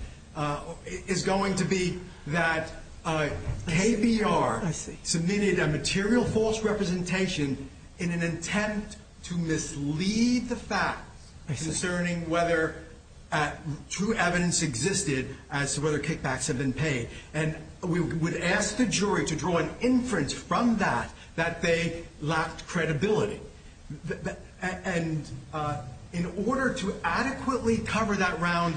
is going to be that KBR submitted a material false representation in an attempt to mislead the facts... ...concerning whether true evidence existed as to whether kickbacks had been paid. And we would ask the jury to draw an inference from that that they lacked credibility. And in order to adequately cover that round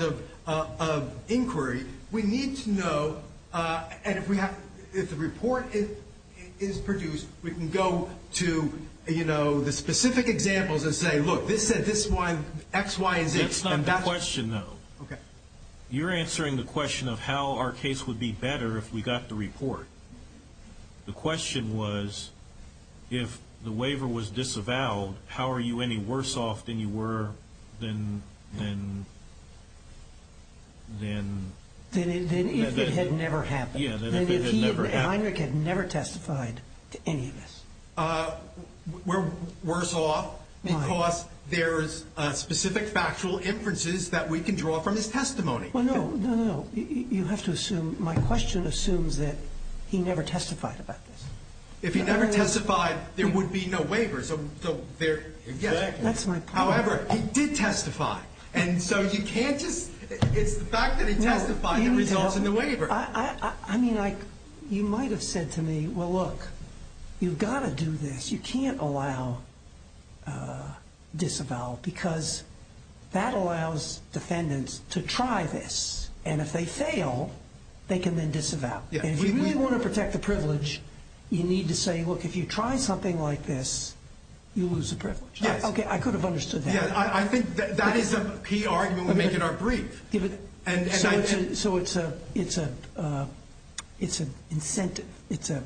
of inquiry, we need to know... And if we have... If the report is produced, we can go to, you know, the specific examples and say, look, this said this one X, Y, and Z. That's not the question, though. Okay. You're answering the question of how our case would be better if we got the report. The question was, if the waiver was disavowed, how are you any worse off than you were than... Than if it had never happened. Yeah, than if it had never happened. Heinrich had never testified to any of this. We're worse off because there's specific factual inferences that we can draw from his testimony. Well, no, no, no, no. You have to assume... My question assumes that he never testified about this. If he never testified, there would be no waiver, so there... Exactly. However, he did testify. And so you can't just... It's the fact that he testified that results in the waiver. I mean, you might have said to me, well, look, you've got to do this. You can't allow disavowal because that allows defendants to try this, and if they fail, they can then disavow. And if you really want to protect the privilege, you need to say, look, if you try something like this, you lose the privilege. Okay, I could have understood that. Yeah, I think that is a key argument we make in our brief. So it's an incentive,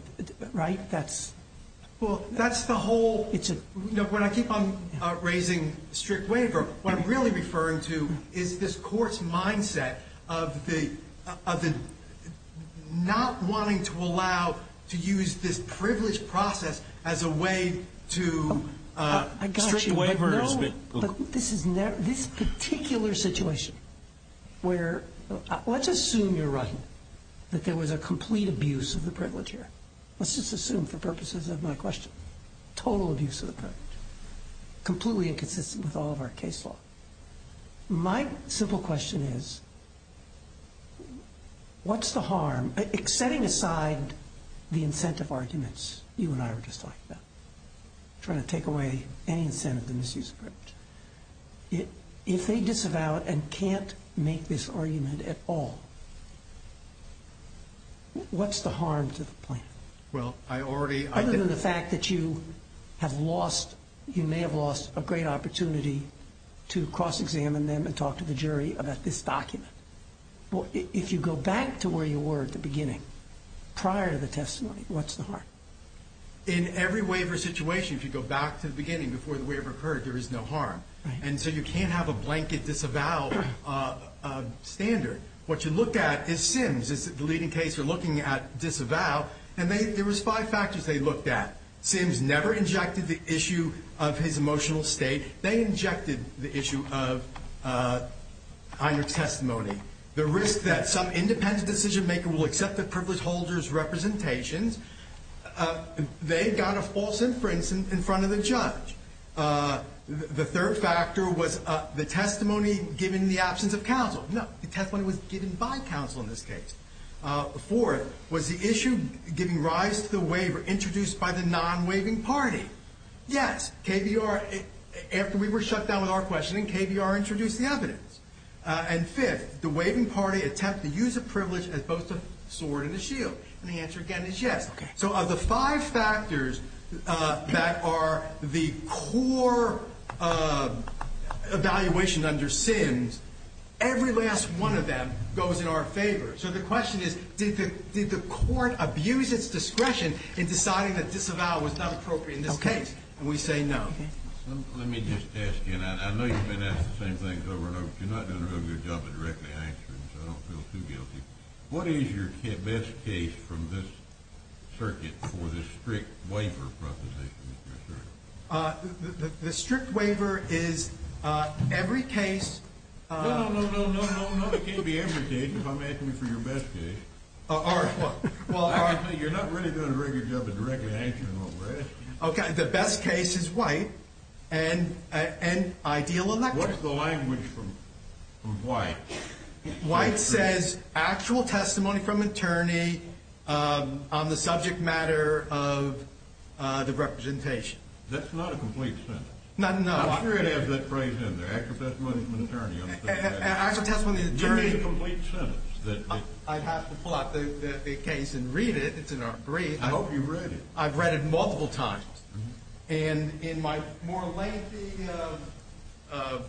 right? That's... Well, that's the whole... It's a... When I keep on raising strict waiver, what I'm really referring to is this Court's mindset of the not wanting to allow, to use this privilege process as a way to... I got you. Strict waiver is a bit... But this particular situation where... Let's assume you're right, that there was a complete abuse of the privilege here. Let's just assume for purposes of my question. Total abuse of the privilege. Completely inconsistent with all of our case law. My simple question is, what's the harm? Setting aside the incentive arguments you and I were just talking about, trying to take away any incentive to misuse the privilege. If they disavow it and can't make this argument at all, what's the harm to the plaintiff? Well, I already... Other than the fact that you have lost... You may have lost a great opportunity to cross-examine them and talk to the jury about this document. If you go back to where you were at the beginning, prior to the testimony, what's the harm? In every waiver situation, if you go back to the beginning, before the waiver occurred, there is no harm. And so you can't have a blanket disavow standard. What you look at is Sims, the leading case we're looking at, disavow. And there was five factors they looked at. Sims never injected the issue of his emotional state. They injected the issue of either testimony. The risk that some independent decision-maker will accept the privilege holder's representations. They got a false inference in front of the judge. The third factor was the testimony given in the absence of counsel. No, the testimony was given by counsel in this case. The fourth was the issue giving rise to the waiver introduced by the non-waiving party. Yes, KVR, after we were shut down with our questioning, KVR introduced the evidence. And fifth, the waiving party attempt to use a privilege as both a sword and a shield. And the answer, again, is yes. So of the five factors that are the core evaluation under Sims, every last one of them goes in our favor. So the question is, did the court abuse its discretion in deciding that disavow was not appropriate in this case? And we say no. Let me just ask you that. I know you've been asked the same thing over and over. You're not doing a real good job of directly answering, so I don't feel too guilty. What is your best case from this circuit for the strict waiver proposition? The strict waiver is every case. No, no, no, no, no, no. It can't be every case if I'm asking you for your best case. All right. Well, all right. You're not really doing a very good job of directly answering what we're asking. Okay. The best case is White. And I deal in that case. What's the language from White? White says actual testimony from attorney on the subject matter of the representation. That's not a complete sentence. No, no. I'm sure they have that phrase in there, actual testimony from an attorney on the subject matter. Actual testimony from an attorney. You need a complete sentence. I'd have to pull out the case and read it. It's in our brief. I hope you've read it. I've read it multiple times. And in my more lengthy notes, I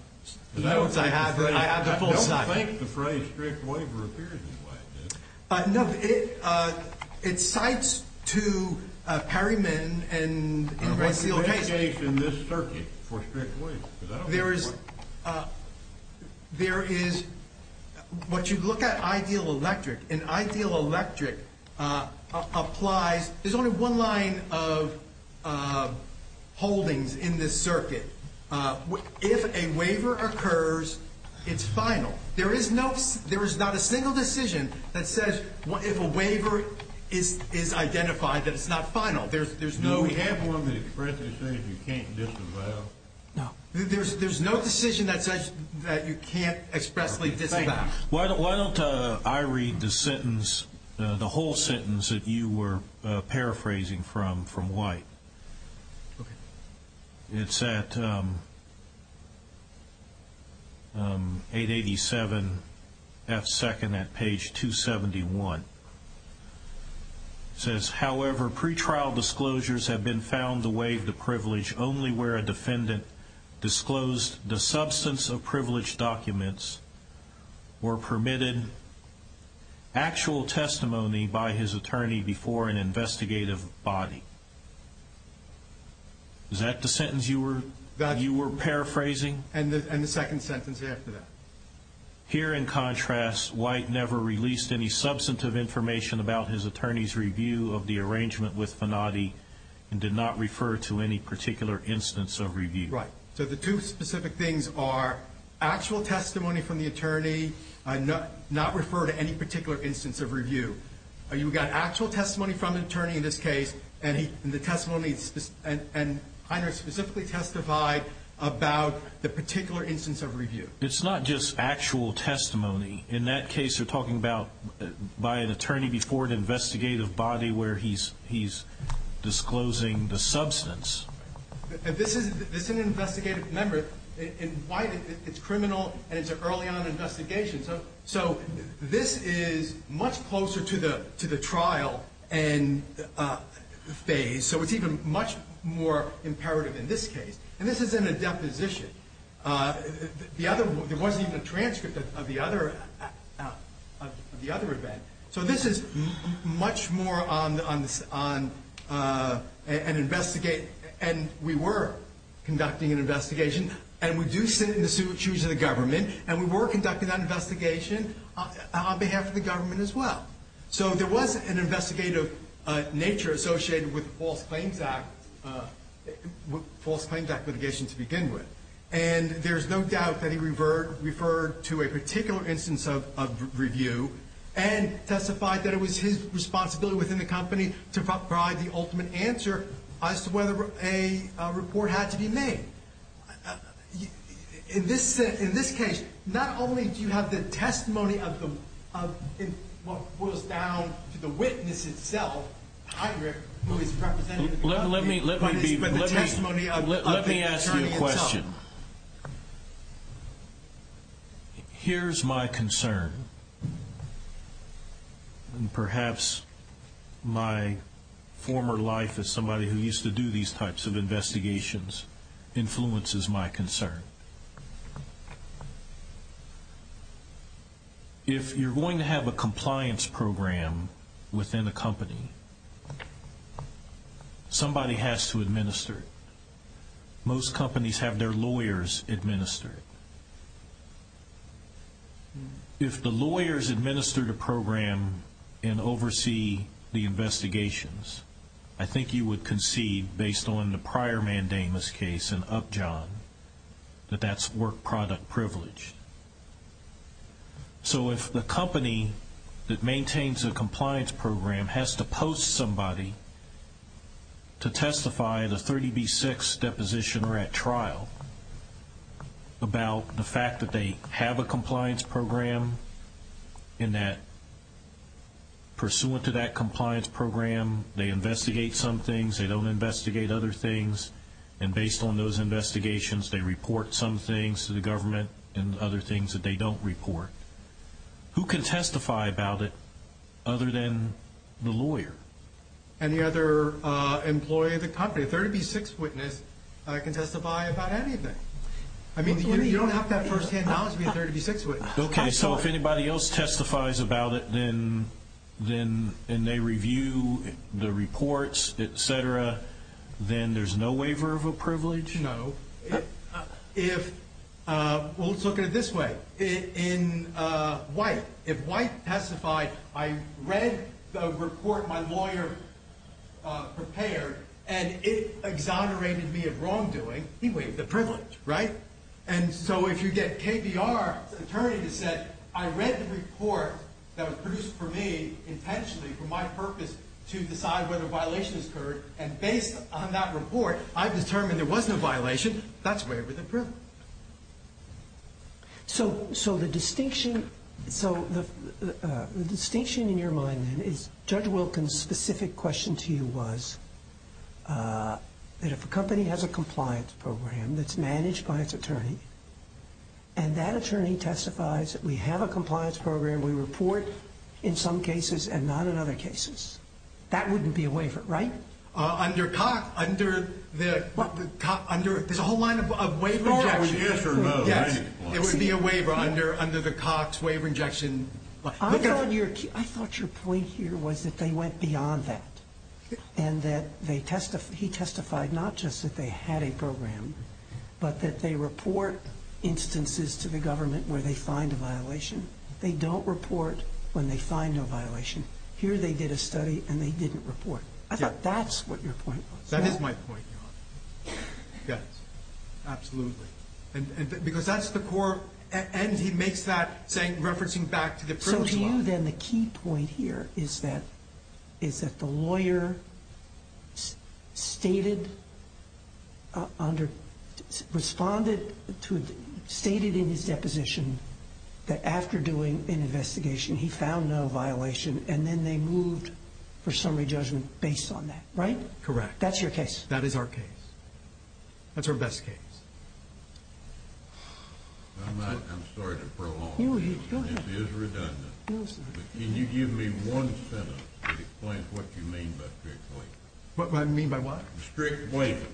have the full sentence. I don't think the phrase strict waiver appears in White. No. It cites to Perryman and White's sealed case. What's the best case in this circuit for strict waiver? There is what you look at ideal electric. And ideal electric applies. There's only one line of holdings in this circuit. If a waiver occurs, it's final. There is not a single decision that says if a waiver is identified, that it's not final. Do we have one that expressly says you can't disavow? No. There's no decision that says that you can't expressly disavow. Why don't I read the whole sentence that you were paraphrasing from White? Okay. It's at 887F2 at page 271. It says, however, pretrial disclosures have been found to waive the privilege only where a defendant disclosed the substance of privileged documents or permitted actual testimony by his attorney before an investigative body. Is that the sentence you were paraphrasing? And the second sentence after that. Here, in contrast, White never released any substantive information about his attorney's review of the arrangement with Fanati and did not refer to any particular instance of review. Right. So the two specific things are actual testimony from the attorney, not refer to any particular instance of review. You've got actual testimony from the attorney in this case, and Heiner specifically testified about the particular instance of review. It's not just actual testimony. In that case, you're talking about by an attorney before an investigative body where he's disclosing the substance. This is an investigative member. In White, it's criminal and it's an early-on investigation. So this is much closer to the trial phase, so it's even much more imperative in this case. And this isn't a deposition. There wasn't even a transcript of the other event. So this is much more on an investigation. And we were conducting an investigation, and we do sit in the shoes of the government, and we were conducting that investigation on behalf of the government as well. So there was an investigative nature associated with the False Claims Act litigation to begin with, and there's no doubt that he referred to a particular instance of review and testified that it was his responsibility within the company to provide the ultimate answer as to whether a report had to be made. In this case, not only do you have the testimony of what boils down to the witness itself, Heinrich, who is representing the company, but the testimony of the attorney himself. Let me ask you a question. Here's my concern. And perhaps my former life as somebody who used to do these types of investigations influences my concern. If you're going to have a compliance program within a company, somebody has to administer it. Most companies have their lawyers administer it. If the lawyers administer the program and oversee the investigations, I think you would concede, based on the prior mandamus case in Upjohn, that that's work product privilege. So if the company that maintains a compliance program has to post somebody to testify, the 30B6 deposition or at trial, about the fact that they have a compliance program, and that pursuant to that compliance program they investigate some things, they don't investigate other things, and based on those investigations they report some things to the government and other things that they don't report, who can testify about it other than the lawyer? Any other employee of the company? A 30B6 witness can testify about anything. I mean, you don't have to have first-hand knowledge to be a 30B6 witness. Okay, so if anybody else testifies about it and they review the reports, et cetera, then there's no waiver of a privilege? No. Well, let's look at it this way. In White, if White testified, I read the report my lawyer prepared and it exonerated me of wrongdoing, he waived the privilege, right? And so if you get KBR's attorney to say, I read the report that was produced for me intentionally for my purpose to decide whether a violation has occurred, and based on that report I've determined there was no violation, that's a waiver of the privilege. So the distinction in your mind then is Judge Wilkins' specific question to you was that if a company has a compliance program that's managed by its attorney and that attorney testifies that we have a compliance program, we report in some cases and not in other cases, that wouldn't be a waiver, right? There's a whole line of waiver injections. It would be a waiver under the Cox waiver injection. I thought your point here was that they went beyond that and that he testified not just that they had a program, but that they report instances to the government where they find a violation. They don't report when they find no violation. Here they did a study and they didn't report. I thought that's what your point was. That is my point, Your Honor. Yes. Absolutely. Because that's the core, and he makes that referencing back to the privilege law. So to you then the key point here is that the lawyer stated in his deposition that after doing an investigation he found no violation, and then they moved for summary judgment based on that, right? Correct. That's your case. That is our case. That's our best case. I'm sorry to prolong. Go ahead. This is redundant. Can you give me one sentence that explains what you mean by strict waiver? What do I mean by what? Strict waiver.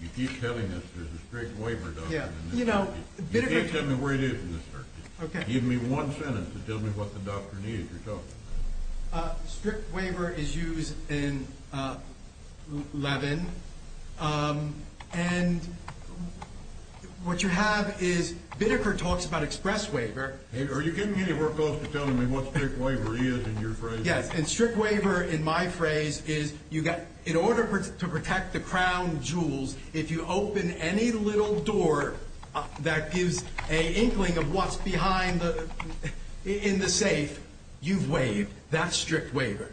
You keep telling us there's a strict waiver doctrine in this circuit. You keep telling me where it is in this circuit. Okay. Can you give me one sentence that tells me what the doctrine is yourself? Strict waiver is used in Levin, and what you have is Biddeker talks about express waiver. Are you getting anywhere close to telling me what strict waiver is in your phrase? Yes, and strict waiver in my phrase is in order to protect the crown jewels, if you open any little door that gives an inkling of what's behind in the safe, you've waived. That's strict waiver.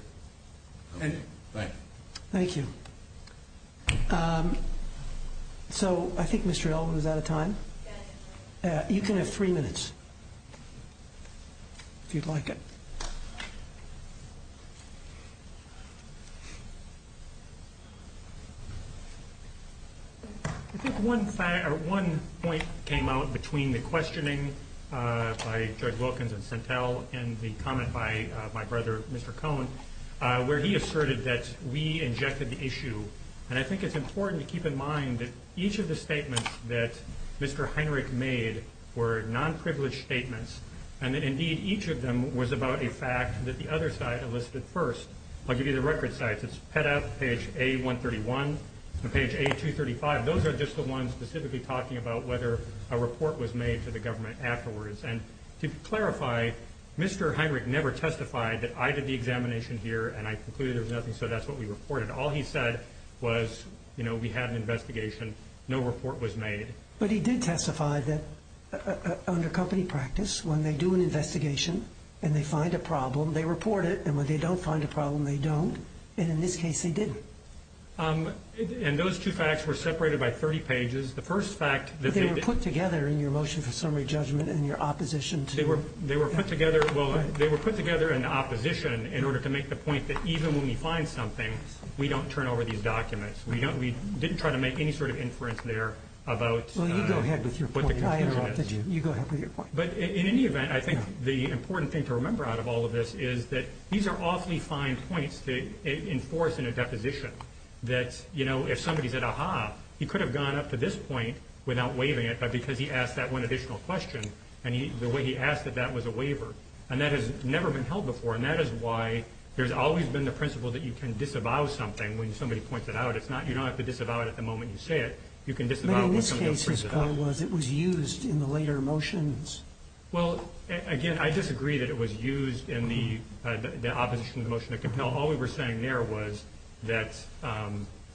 Thank you. Thank you. So I think Mr. Elvin is out of time. You can have three minutes, if you'd like it. I think one point came out between the questioning by Judge Wilkins and Sentell and the comment by my brother, Mr. Cohen, where he asserted that we injected the issue. And I think it's important to keep in mind that each of the statements that Mr. Heinrich made were nonprivileged statements, and that, indeed, each of them was about a fact that the other side elicited first. I'll give you the record sites. It's PETA page A131 and page A235. Those are just the ones specifically talking about whether a report was made to the government afterwards. And to clarify, Mr. Heinrich never testified that I did the examination here, and I concluded there was nothing, so that's what we reported. All he said was, you know, we had an investigation. No report was made. But he did testify that under company practice, when they do an investigation and they find a problem, they report it. And when they don't find a problem, they don't. And in this case, they didn't. And those two facts were separated by 30 pages. The first fact that they did. But they were put together in your motion for summary judgment and your opposition to. They were put together. Well, they were put together in opposition in order to make the point that even when we find something, we don't turn over these documents. We didn't try to make any sort of inference there about what the conclusion is. Well, you go ahead with your point. I interrupted you. You go ahead with your point. But in any event, I think the important thing to remember out of all of this is that these are awfully fine points to enforce in a deposition, that, you know, if somebody said, aha, he could have gone up to this point without waiving it, but because he asked that one additional question and the way he asked it, that was a waiver. And that has never been held before. And that is why there's always been the principle that you can disavow something when somebody points it out. You don't have to disavow it at the moment you say it. You can disavow it when somebody else brings it up. But in this case, it was used in the later motions. Well, again, I disagree that it was used in the opposition to the motion. All we were saying there was that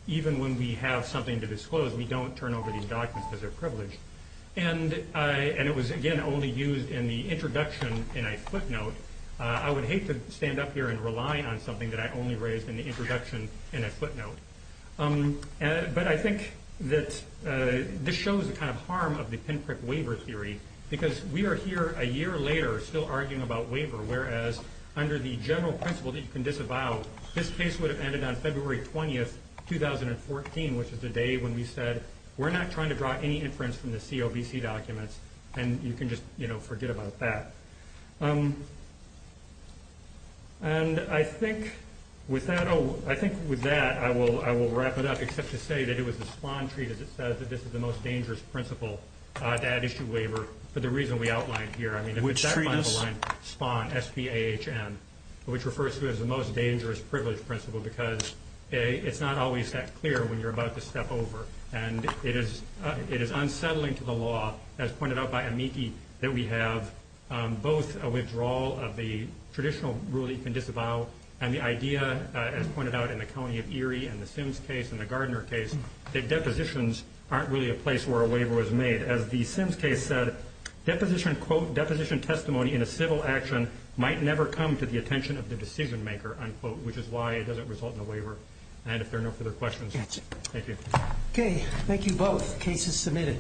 even when we have something to disclose, we don't turn over these documents because they're privileged. And it was, again, only used in the introduction in a footnote. I would hate to stand up here and rely on something that I only raised in the introduction in a footnote. But I think that this shows the kind of harm of the pinprick waiver theory because we are here a year later still arguing about waiver, whereas under the general principle that you can disavow, this case would have ended on February 20th, 2014, which is the day when we said we're not trying to draw any inference from the COBC documents. And you can just forget about that. And I think with that, I will wrap it up, except to say that it was the spawn treat as it says, that this is the most dangerous principle to add issue waiver for the reason we outlined here. I mean, if it's that line, spawn, S-P-A-H-N, which refers to it as the most dangerous privilege principle because it's not always that clear when you're about to step over. And it is unsettling to the law, as pointed out by Amiki, that we have both a withdrawal of the traditional rule that you can disavow and the idea, as pointed out in the county of Erie and the Sims case and the Gardner case, that depositions aren't really a place where a waiver was made. As the Sims case said, deposition testimony in a civil action might never come to the attention of the decision maker, which is why it doesn't result in a waiver. And if there are no further questions, thank you. Okay, thank you both. Case is submitted.